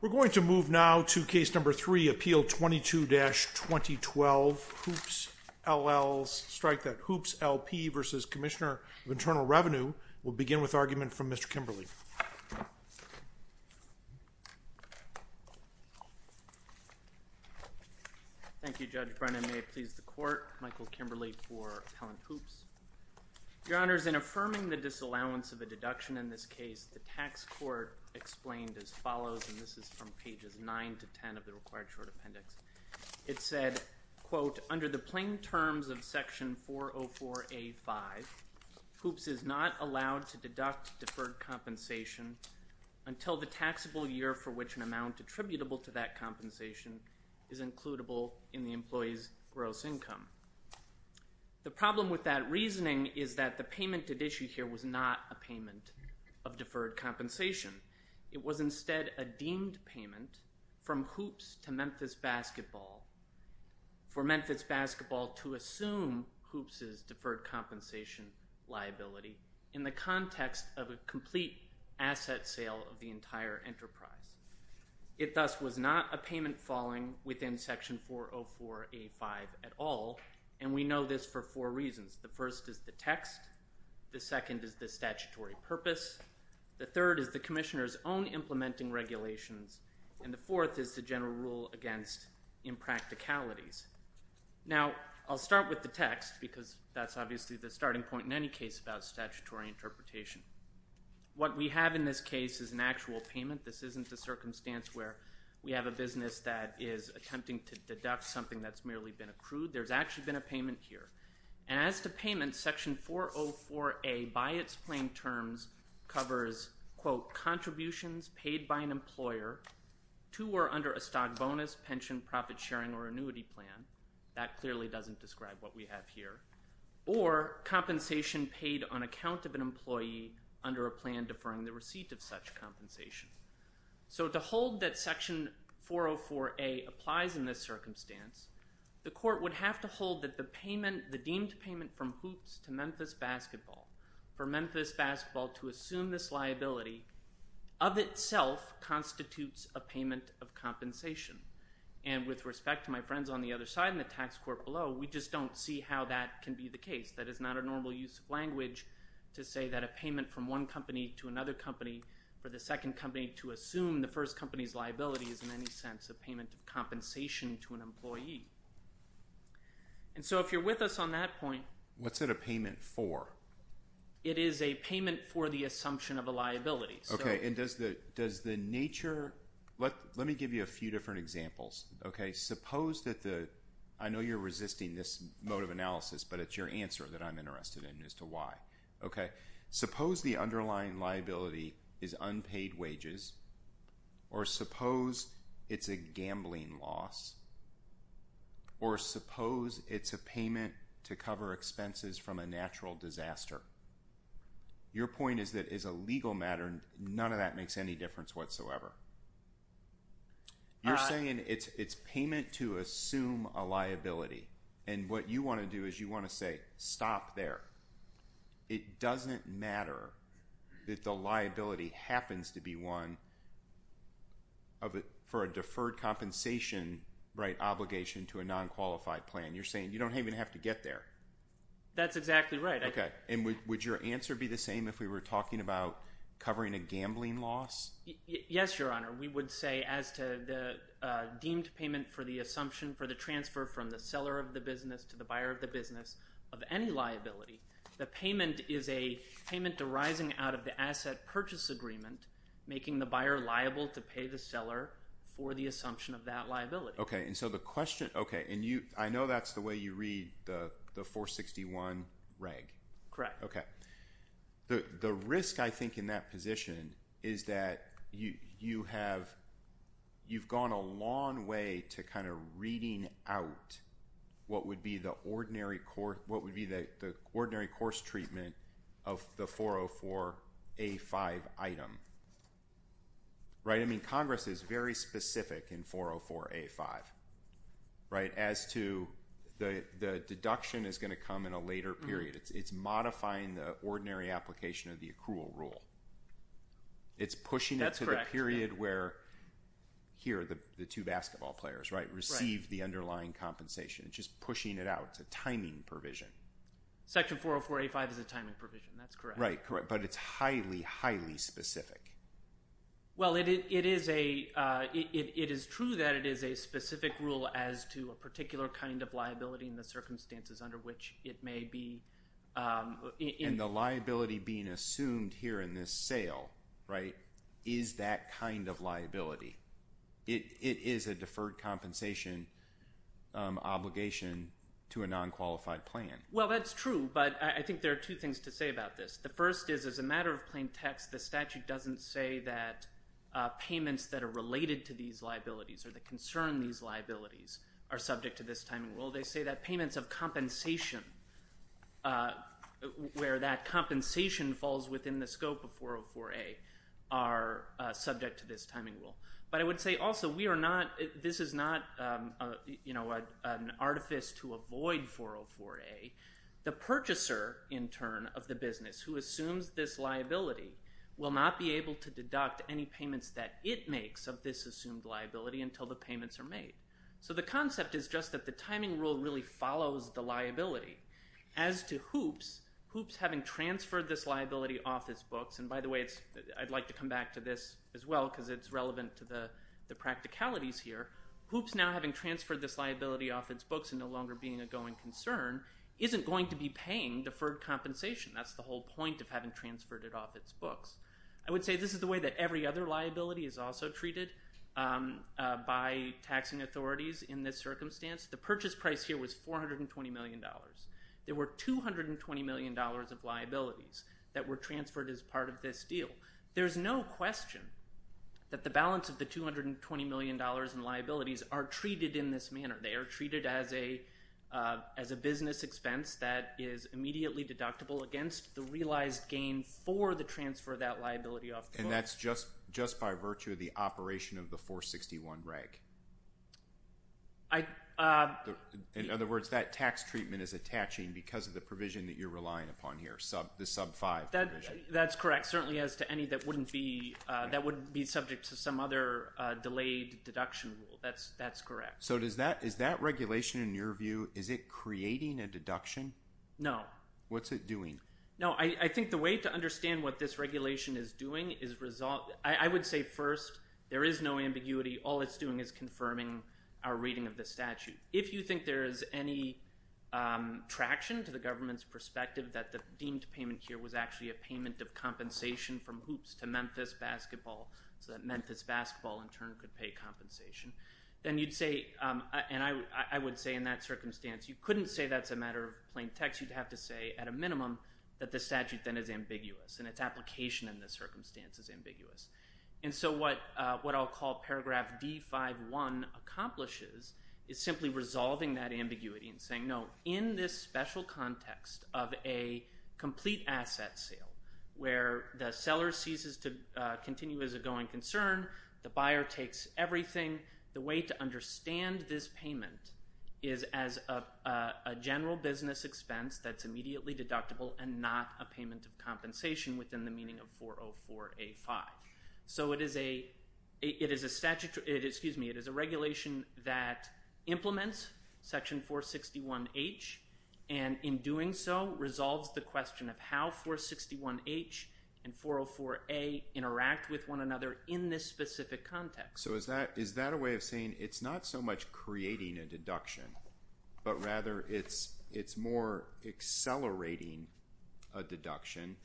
We're going to move now to Case No. 3, Appeal 22-2012, Hoops, LLC, strike that Hoops, LP v. Commissioner of Internal Revenue. We'll begin with argument from Mr. Kimberley. Thank you, Judge Brennan. May it please the Court, Michael Kimberley for Appellant Hoops. Your Honors, in affirming the disallowance of a deduction in this case, the tax court explained as follows, and this is from pages 9 to 10 of the required short appendix. It said, quote, under the plain terms of Section 404A.5, Hoops is not allowed to deduct deferred compensation until the taxable year for which an amount attributable to that compensation is includible in the employee's gross income. The problem with that reasoning is that the payment at issue here was not a payment of deferred compensation. It was instead a deemed payment from Hoops to Memphis Basketball for Memphis Basketball to assume Hoops' deferred compensation liability in the context of a complete asset sale of the entire enterprise. It thus was not a payment falling within Section 404A.5 at all, and we know this for four reasons. The first is the text, the second is the statutory purpose, the third is the commissioner's own implementing regulations, and the fourth is the general rule against impracticalities. Now, I'll start with the text because that's obviously the starting point in any case about statutory interpretation. What we have in this case is an actual payment. This isn't a circumstance where we have a business that is attempting to deduct something that's merely been accrued. There's actually been a payment here. And as to payment, Section 404A by its plain terms covers, quote, contributions paid by an employer to or under a stock bonus, pension, profit sharing, or annuity plan. That clearly doesn't describe what we have here. Or compensation paid on account of an employee under a plan deferring the receipt of such compensation. So to hold that Section 404A applies in this circumstance, the court would have to hold that the payment, the deemed payment from Hoops to Memphis Basketball for Memphis Basketball to assume this liability of itself constitutes a payment of compensation. And with respect to my friends on the other side and the tax court below, we just don't see how that can be the case. That is not a normal use of language to say that a payment from one company to another company for the second company to assume the first company's liability is in any sense a payment of compensation to an employee. And so if you're with us on that point. What's it a payment for? It is a payment for the assumption of a liability. Okay. And does the nature – let me give you a few different examples. Okay. Suppose that the – I know you're resisting this mode of analysis, but it's your answer that I'm interested in as to why. Okay. Suppose the underlying liability is unpaid wages. Or suppose it's a gambling loss. Or suppose it's a payment to cover expenses from a natural disaster. Your point is that as a legal matter, none of that makes any difference whatsoever. You're saying it's payment to assume a liability. And what you want to do is you want to say stop there. It doesn't matter that the liability happens to be one for a deferred compensation obligation to a non-qualified plan. You're saying you don't even have to get there. That's exactly right. Okay. And would your answer be the same if we were talking about covering a gambling loss? Yes, Your Honor. We would say as to the deemed payment for the assumption for the transfer from the seller of the business to the buyer of the business of any liability, the payment is a payment arising out of the asset purchase agreement making the buyer liable to pay the seller for the assumption of that liability. Okay. And I know that's the way you read the 461 reg. Correct. Okay. The risk, I think, in that position is that you've gone a long way to kind of reading out what would be the ordinary course treatment of the 404A5 item. I mean, Congress is very specific in 404A5 as to the deduction is going to come in a later period. It's modifying the ordinary application of the accrual rule. It's pushing it to the period where, here, the two basketball players receive the underlying compensation. It's just pushing it out. It's a timing provision. Section 404A5 is a timing provision. That's correct. Right. But it's highly, highly specific. Well, it is true that it is a specific rule as to a particular kind of liability in the circumstances under which it may be. And the liability being assumed here in this sale, right, is that kind of liability. It is a deferred compensation obligation to a non-qualified plan. Well, that's true. But I think there are two things to say about this. The first is, as a matter of plain text, the statute doesn't say that payments that are related to these liabilities or that concern these liabilities are subject to this timing rule. They say that payments of compensation, where that compensation falls within the scope of 404A, are subject to this timing rule. But I would say, also, this is not an artifice to avoid 404A. The purchaser, in turn, of the business who assumes this liability, will not be able to deduct any payments that it makes of this assumed liability until the payments are made. So the concept is just that the timing rule really follows the liability. As to hoops, hoops having transferred this liability off its books, and by the way, I'd like to come back to this as well because it's relevant to the practicalities here. Hoops, now having transferred this liability off its books and no longer being a going concern, isn't going to be paying deferred compensation. That's the whole point of having transferred it off its books. I would say this is the way that every other liability is also treated by taxing authorities in this circumstance. The purchase price here was $420 million. There were $220 million of liabilities that were transferred as part of this deal. There's no question that the balance of the $220 million in liabilities are treated in this manner. They are treated as a business expense that is immediately deductible against the realized gain for the transfer of that liability off the books. And that's just by virtue of the operation of the 461 reg. In other words, that tax treatment is attaching because of the provision that you're relying upon here, the sub-5 provision. That's correct, certainly as to any that wouldn't be subject to some other delayed deduction rule. That's correct. So is that regulation, in your view, is it creating a deduction? No. What's it doing? No, I think the way to understand what this regulation is doing is I would say first, there is no ambiguity. All it's doing is confirming our reading of the statute. If you think there is any traction to the government's perspective that the deemed payment here was actually a payment of compensation from hoops to Memphis basketball, so that Memphis basketball in turn could pay compensation, then you'd say, and I would say in that circumstance, you couldn't say that's a matter of plain text. You'd have to say at a minimum that the statute then is ambiguous and its application in this circumstance is ambiguous. And so what I'll call paragraph D51 accomplishes is simply resolving that ambiguity and saying, no, in this special context of a complete asset sale where the seller ceases to continue as a going concern, the buyer takes everything, the way to understand this payment is as a general business expense that's immediately deductible and not a payment of compensation within the meaning of 404A. So it is a regulation that implements section 461H and in doing so, resolves the question of how 461H and 404A interact with one another in this specific context. So is that a way of saying it's not so much creating a deduction, but rather it's more accelerating a deduction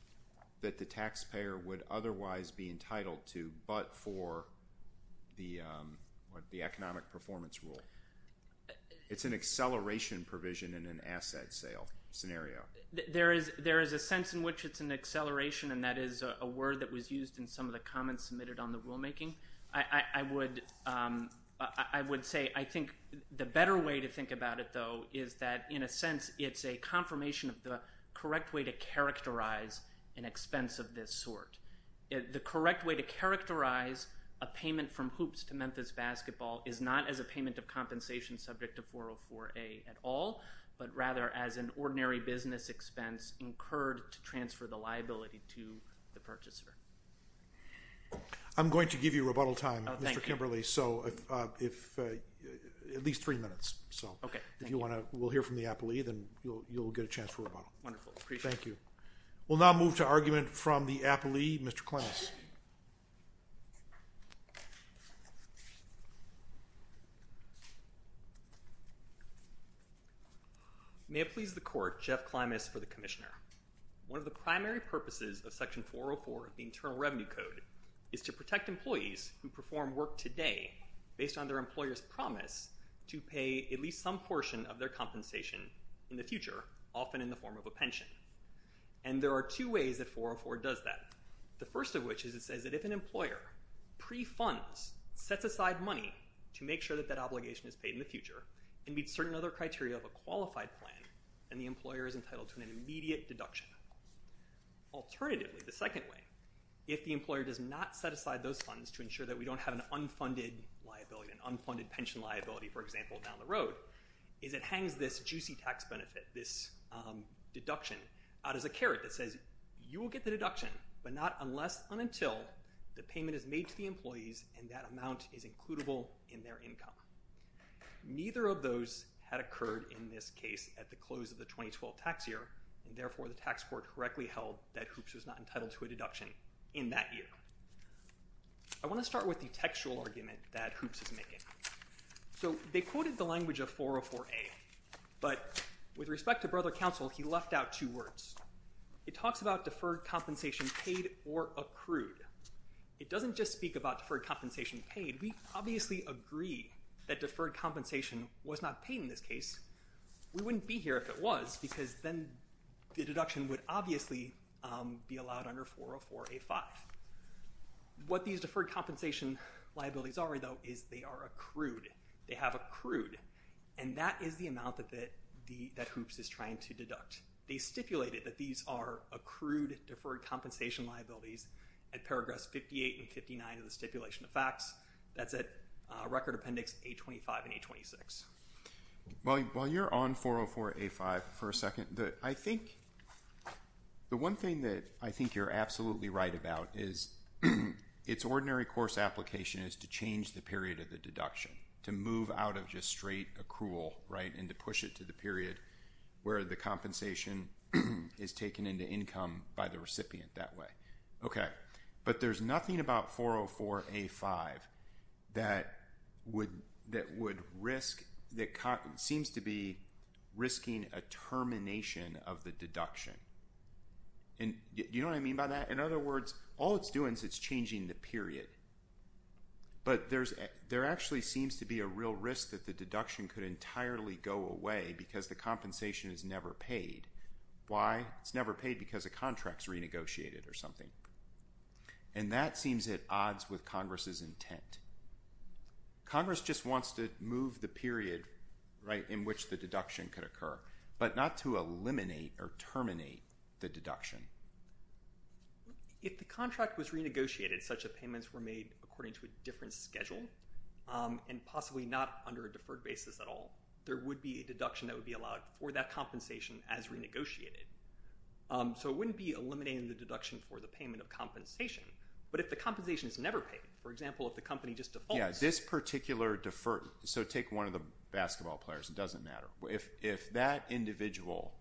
that the taxpayer would otherwise be entitled to but for the economic performance rule. It's an acceleration provision in an asset sale scenario. There is a sense in which it's an acceleration and that is a word that was used in some of the comments submitted on the rulemaking. I would say I think the better way to think about it, though, is that in a sense it's a confirmation of the correct way to characterize an expense of this sort. The correct way to characterize a payment from hoops to Memphis basketball is not as a payment of compensation subject to 404A at all, but rather as an ordinary business expense incurred to transfer the liability to the purchaser. I'm going to give you rebuttal time, Mr. Kimberly. Oh, thank you. At least three minutes. Okay. If you want to, we'll hear from the appellee, then you'll get a chance for rebuttal. Wonderful, appreciate it. Thank you. We'll now move to argument from the appellee, Mr. Klimas. May it please the court, Jeff Klimas for the commissioner. One of the primary purposes of Section 404 of the Internal Revenue Code is to protect employees who perform work today based on their employer's promise to pay at least some portion of their compensation in the future, often in the form of a pension. And there are two ways that 404 does that. The first of which is it says that if an employer pre-funds, sets aside money to make sure that that obligation is paid in the future and meets certain other criteria of a qualified plan, then the employer is entitled to an immediate deduction. Alternatively, the second way, if the employer does not set aside those funds to ensure that we don't have an unfunded liability, an unfunded pension liability, for example, down the road, is it hangs this juicy tax benefit, this deduction, out as a carrot that says you will get the deduction, but not unless and until the payment is made to the employees and that amount is includable in their income. Neither of those had occurred in this case at the close of the 2012 tax year, and therefore the tax court correctly held that Hoops was not entitled to a deduction in that year. I want to start with the textual argument that Hoops is making. So they quoted the language of 404A, but with respect to Brother Counsel, he left out two words. It talks about deferred compensation paid or accrued. It doesn't just speak about deferred compensation paid. We obviously agree that deferred compensation was not paid in this case. We wouldn't be here if it was because then the deduction would obviously be allowed under 404A-5. What these deferred compensation liabilities are, though, is they are accrued. They have accrued, and that is the amount that Hoops is trying to deduct. They stipulated that these are accrued deferred compensation liabilities at paragraphs 58 and 59 of the stipulation of facts. That's at Record Appendix A-25 and A-26. While you're on 404A-5 for a second, I think the one thing that I think you're absolutely right about is its ordinary course application is to change the period of the deduction, to move out of just straight accrual, right, and to push it to the period where the compensation is taken into income by the recipient that way. Okay, but there's nothing about 404A-5 that seems to be risking a termination of the deduction. Do you know what I mean by that? In other words, all it's doing is it's changing the period. But there actually seems to be a real risk that the deduction could entirely go away because the compensation is never paid. Why? It's never paid because a contract's renegotiated or something. And that seems at odds with Congress's intent. Congress just wants to move the period in which the deduction could occur, but not to eliminate or terminate the deduction. If the contract was renegotiated, such that payments were made according to a different schedule and possibly not under a deferred basis at all, there would be a deduction that would be allowed for that compensation as renegotiated. So it wouldn't be eliminating the deduction for the payment of compensation, but if the compensation is never paid, for example, if the company just defaults. Yeah, this particular deferred, so take one of the basketball players, it doesn't matter. If that individual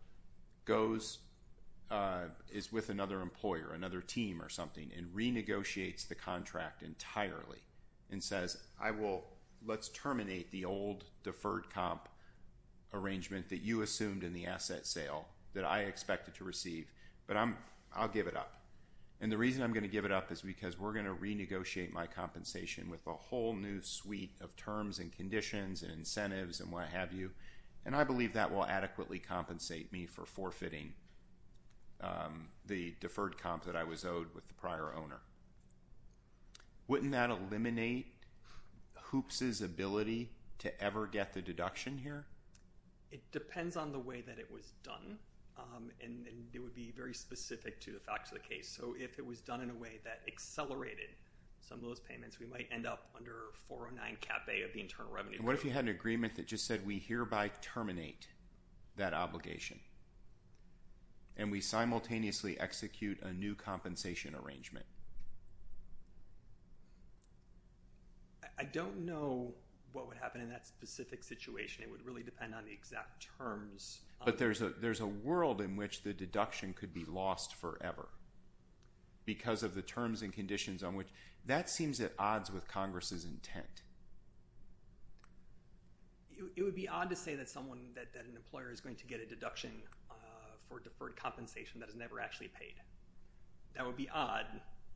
is with another employer, another team or something, and renegotiates the contract entirely and says, let's terminate the old deferred comp arrangement that you assumed in the asset sale that I expected to receive, but I'll give it up. And the reason I'm going to give it up is because we're going to renegotiate my compensation with a whole new suite of terms and conditions and incentives and what have you. And I believe that will adequately compensate me for forfeiting the deferred comp that I was owed with the prior owner. Wouldn't that eliminate Hoops' ability to ever get the deduction here? It depends on the way that it was done, and it would be very specific to the facts of the case. So if it was done in a way that accelerated some of those payments, we might end up under 409 cap a of the internal revenue. What if you had an agreement that just said we hereby terminate that obligation and we simultaneously execute a new compensation arrangement? I don't know what would happen in that specific situation. It would really depend on the exact terms. But there's a world in which the deduction could be lost forever because of the terms and conditions on which. That seems at odds with Congress's intent. It would be odd to say that someone, that an employer is going to get a deduction for deferred compensation that is never actually paid. That would be odd,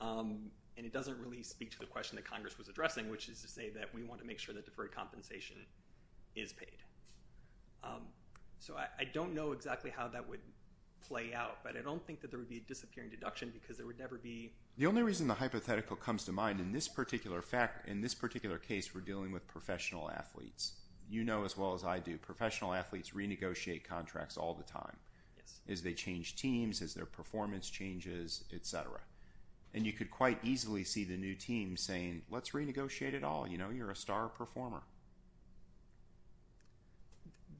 and it doesn't really speak to the question that Congress was addressing, which is to say that we want to make sure that deferred compensation is paid. So I don't know exactly how that would play out, but I don't think that there would be a disappearing deduction because there would never be... The only reason the hypothetical comes to mind in this particular case, we're dealing with professional athletes. You know as well as I do, professional athletes renegotiate contracts all the time as they change teams, as their performance changes, et cetera. And you could quite easily see the new team saying, let's renegotiate it all. You know, you're a star performer.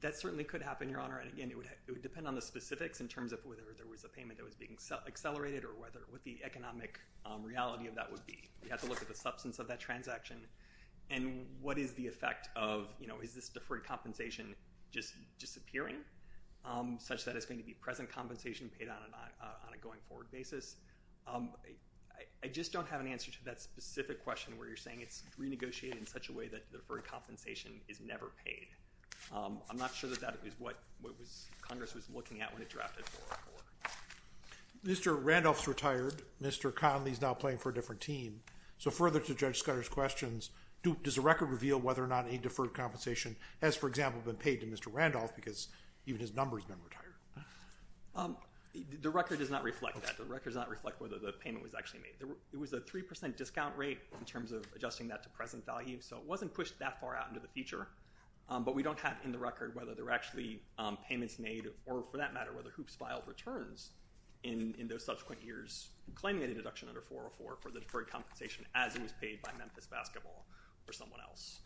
That certainly could happen, Your Honor. And again, it would depend on the specifics in terms of whether there was a payment that was being accelerated or what the economic reality of that would be. You have to look at the substance of that transaction. And what is the effect of, you know, is this deferred compensation just disappearing, such that it's going to be present compensation paid on a going forward basis? I just don't have an answer to that specific question where you're saying it's renegotiated in such a way that deferred compensation is never paid. I'm not sure that that is what Congress was looking at when it drafted the law. Mr. Randolph is retired. Mr. Conley is now playing for a different team. So further to Judge Scudder's questions, does the record reveal whether or not any deferred compensation has, for example, been paid to Mr. Randolph because even his number has been retired? The record does not reflect that. The record does not reflect whether the payment was actually made. It was a 3% discount rate in terms of adjusting that to present value, so it wasn't pushed that far out into the future. But we don't have in the record whether there were actually payments made or, for that matter, whether hoops filed returns in those subsequent years claiming a deduction under 404 for the deferred compensation as it was paid by Memphis Basketball or someone else.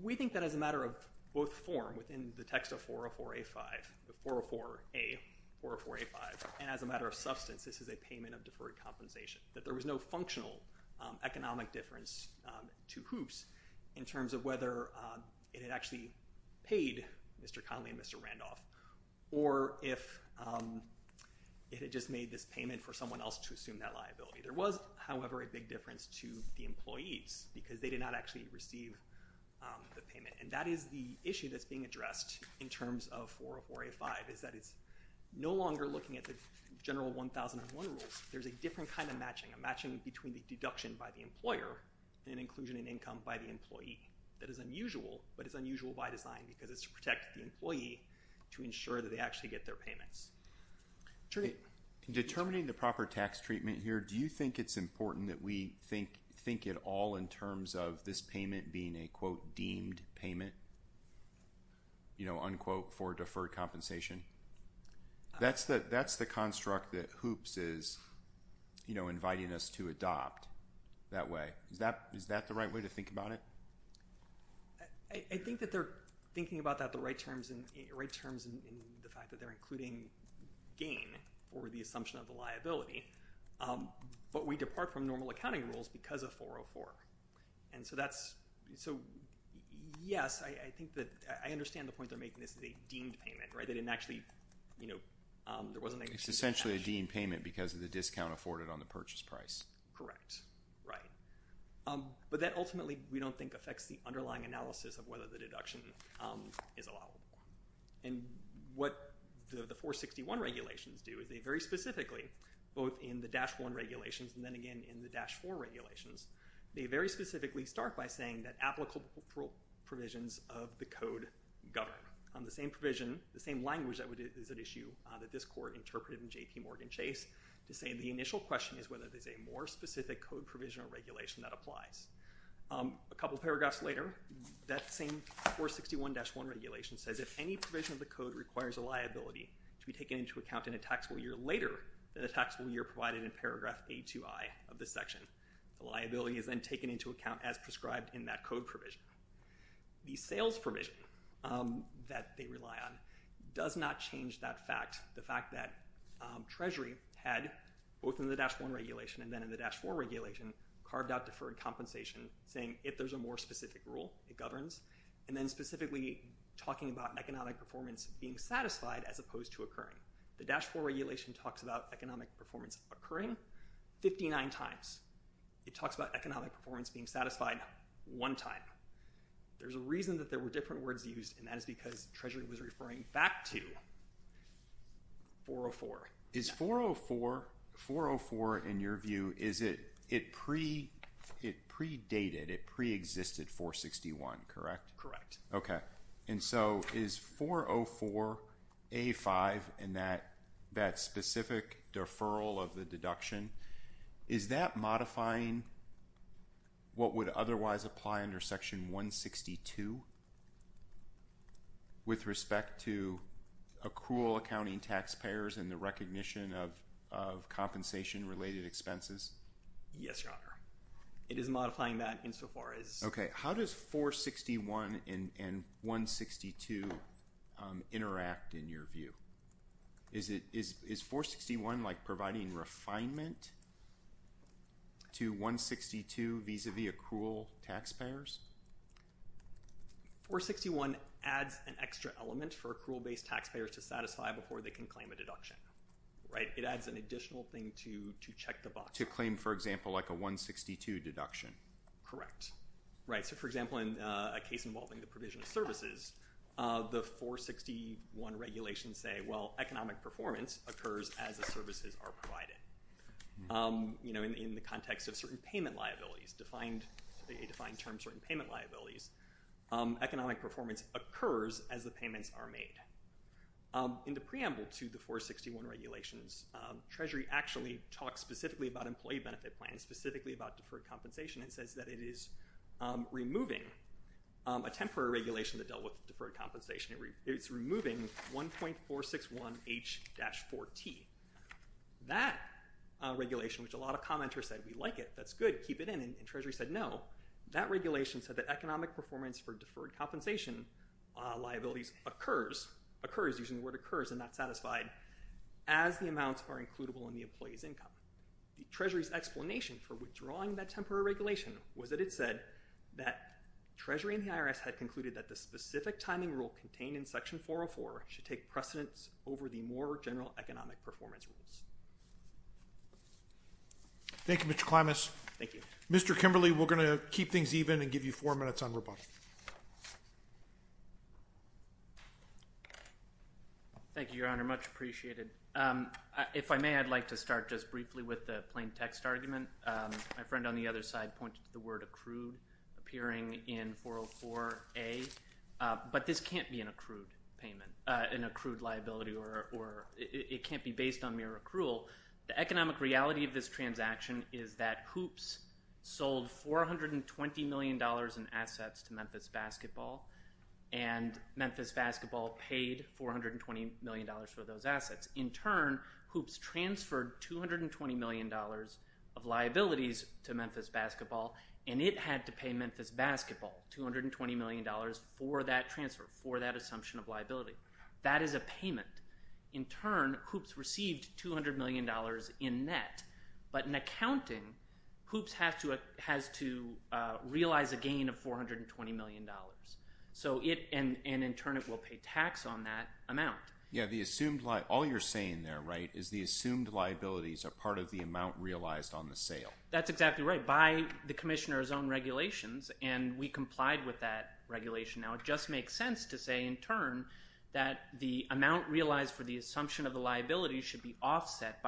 We think that as a matter of both form within the text of 404A-5, the 404A, and as a matter of substance, this is a payment of deferred compensation, that there was no functional economic difference to hoops in terms of whether it had actually paid Mr. Conley and Mr. Randolph or if it had just made this payment for someone else to assume that liability. There was, however, a big difference to the employees because they did not actually receive the payment, and that is the issue that's being addressed in terms of 404A-5 is that it's no longer looking at the general 1001 rules. There's a different kind of matching, a matching between the deduction by the employer and inclusion in income by the employee. That is unusual, but it's unusual by design because it's to protect the employee to ensure that they actually get their payments. Determining the proper tax treatment here, do you think it's important that we think it all in terms of this payment being a, quote, deemed payment, unquote, for deferred compensation? That's the construct that hoops is inviting us to adopt that way. Is that the right way to think about it? I think that they're thinking about that the right terms in the fact that they're including gain for the assumption of the liability, but we depart from normal accounting rules because of 404, and so, yes, I think that I understand the point they're making. This is a deemed payment, right? They didn't actually, you know, there was a negative cash. It's essentially a deemed payment because of the discount afforded on the purchase price. Correct. Right. But that ultimately we don't think affects the underlying analysis of whether the deduction is allowable, and what the 461 regulations do is they very specifically, both in the Dash 1 regulations and then again in the Dash 4 regulations, they very specifically start by saying that applicable provisions of the code govern. The same provision, the same language that is at issue that this court interpreted in J.P. Morgan Chase to say the initial question is whether there's a more specific code provision or regulation that applies. A couple paragraphs later, that same 461-1 regulation says, if any provision of the code requires a liability to be taken into account in a taxable year later than a taxable year provided in paragraph A2I of this section, the liability is then taken into account as prescribed in that code provision. The sales provision that they rely on does not change that fact. The fact that Treasury had, both in the Dash 1 regulation and then in the Dash 4 regulation, carved out deferred compensation saying if there's a more specific rule, it governs, and then specifically talking about economic performance being satisfied as opposed to occurring. The Dash 4 regulation talks about economic performance occurring 59 times. It talks about economic performance being satisfied one time. There's a reason that there were different words used, and that is because Treasury was referring back to 404. Is 404, 404 in your view, is it predated, it preexisted 461, correct? Correct. Okay. And so is 404A5 and that specific deferral of the deduction, is that modifying what would otherwise apply under Section 162 with respect to accrual accounting taxpayers and the recognition of compensation-related expenses? Yes, Your Honor. It is modifying that insofar as... Okay. How does 461 and 162 interact in your view? Is 461 like providing refinement to 162 vis-à-vis accrual taxpayers? 461 adds an extra element for accrual-based taxpayers to satisfy before they can claim a deduction, right? It adds an additional thing to check the box. To claim, for example, like a 162 deduction. Correct. Right. So, for example, in a case involving the provision of services, the 461 regulations say, well, economic performance occurs as the services are provided. You know, in the context of certain payment liabilities, a defined term, certain payment liabilities, economic performance occurs as the payments are made. In the preamble to the 461 regulations, Treasury actually talks specifically about employee benefit plans, and specifically about deferred compensation, and says that it is removing a temporary regulation that dealt with deferred compensation. It's removing 1.461H-4T. That regulation, which a lot of commenters said, we like it, that's good, keep it in, and Treasury said no. That regulation said that economic performance for deferred compensation liabilities occurs, occurs using the word occurs and not satisfied, as the amounts are includable in the employee's income. The Treasury's explanation for withdrawing that temporary regulation was that it said that Treasury and the IRS had concluded that the specific timing rule contained in Section 404 should take precedence over the more general economic performance rules. Thank you, Mr. Klimas. Thank you. Mr. Kimberly, we're going to keep things even and give you four minutes on rebuttal. Thank you, Your Honor. Much appreciated. If I may, I'd like to start just briefly with the plain text argument. My friend on the other side pointed to the word accrued appearing in 404A, but this can't be an accrued payment, an accrued liability, or it can't be based on mere accrual. The economic reality of this transaction is that Hoops sold $420 million in assets to Memphis Basketball, and Memphis Basketball paid $420 million for those assets. In turn, Hoops transferred $220 million of liabilities to Memphis Basketball, and it had to pay Memphis Basketball $220 million for that transfer, for that assumption of liability. That is a payment. In turn, Hoops received $200 million in net, but in accounting, Hoops has to realize a gain of $420 million, and in turn it will pay tax on that amount. All you're saying there is the assumed liabilities are part of the amount realized on the sale. That's exactly right, by the Commissioner's own regulations, and we complied with that regulation. Now, it just makes sense to say, in turn, that the amount realized for the assumption of the liability should be offset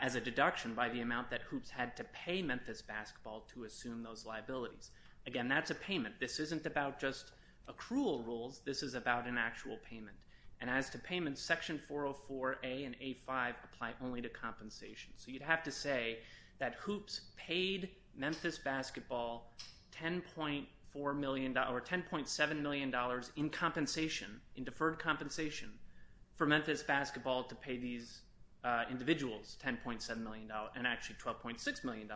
as a deduction by the amount that Hoops had to pay Memphis Basketball to assume those liabilities. Again, that's a payment. This isn't about just accrual rules. This is about an actual payment, and as to payments, Section 404A and A5 apply only to compensation. So you'd have to say that Hoops paid Memphis Basketball $10.4 million or $10.7 million in compensation, in deferred compensation, for Memphis Basketball to pay these individuals $10.7 million, and actually $12.6 million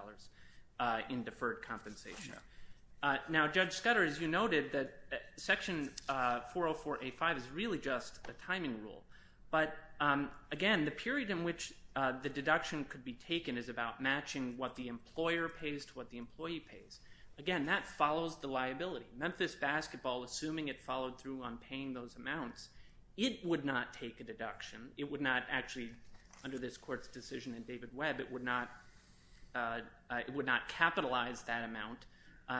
in deferred compensation. Now, Judge Scudder, as you noted, Section 404A and A5 is really just a timing rule. But again, the period in which the deduction could be taken is about matching what the employer pays to what the employee pays. Again, that follows the liability. Memphis Basketball, assuming it followed through on paying those amounts, it would not take a deduction. It would not actually, under this Court's decision in David Webb, it would not capitalize that amount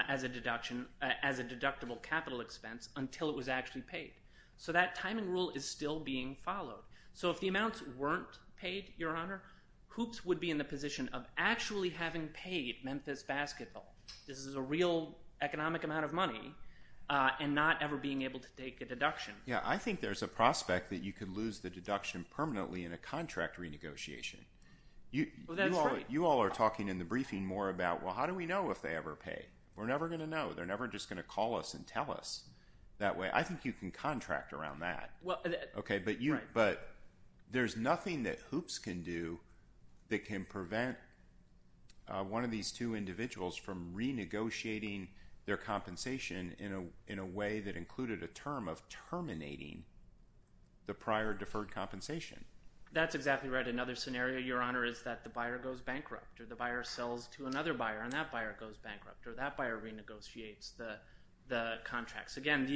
as a deductible capital expense until it was actually paid. So that timing rule is still being followed. So if the amounts weren't paid, Your Honor, Hoops would be in the position of actually having paid Memphis Basketball. This is a real economic amount of money and not ever being able to take a deduction. Yeah, I think there's a prospect that you could lose the deduction permanently in a contract renegotiation. You all are talking in the briefing more about, well, how do we know if they ever pay? We're never going to know. They're never just going to call us and tell us that way. I think you can contract around that. Okay, but there's nothing that Hoops can do that can prevent one of these two individuals from renegotiating their compensation in a way that included a term of terminating the prior deferred compensation. That's exactly right. Another scenario, Your Honor, is that the buyer goes bankrupt, or the buyer sells to another buyer, and that buyer goes bankrupt, or that buyer renegotiates the contracts. Again,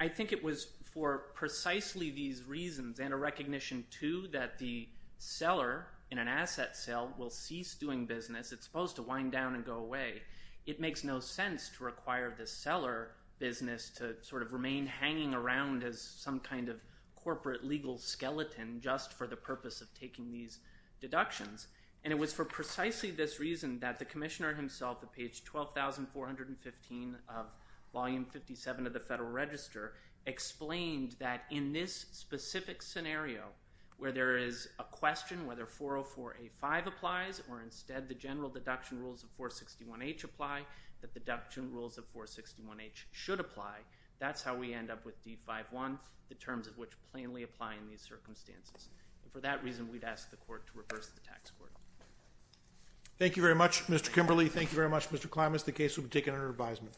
I think it was for precisely these reasons and a recognition, too, that the seller in an asset sale will cease doing business. It's supposed to wind down and go away. It makes no sense to require the seller business to sort of remain hanging around as some kind of corporate legal skeleton just for the purpose of taking these deductions. And it was for precisely this reason that the Commissioner himself, at page 12,415 of Volume 57 of the Federal Register, explained that in this specific scenario where there is a question whether 404A5 applies or instead the general deduction rules of 461H apply, the deduction rules of 461H should apply. That's how we end up with D51, the terms of which plainly apply in these circumstances. And for that reason, we'd ask the Court to reverse the tax court. Thank you very much, Mr. Kimberly. Thank you very much, Mr. Klimas. The case will be taken under advisement.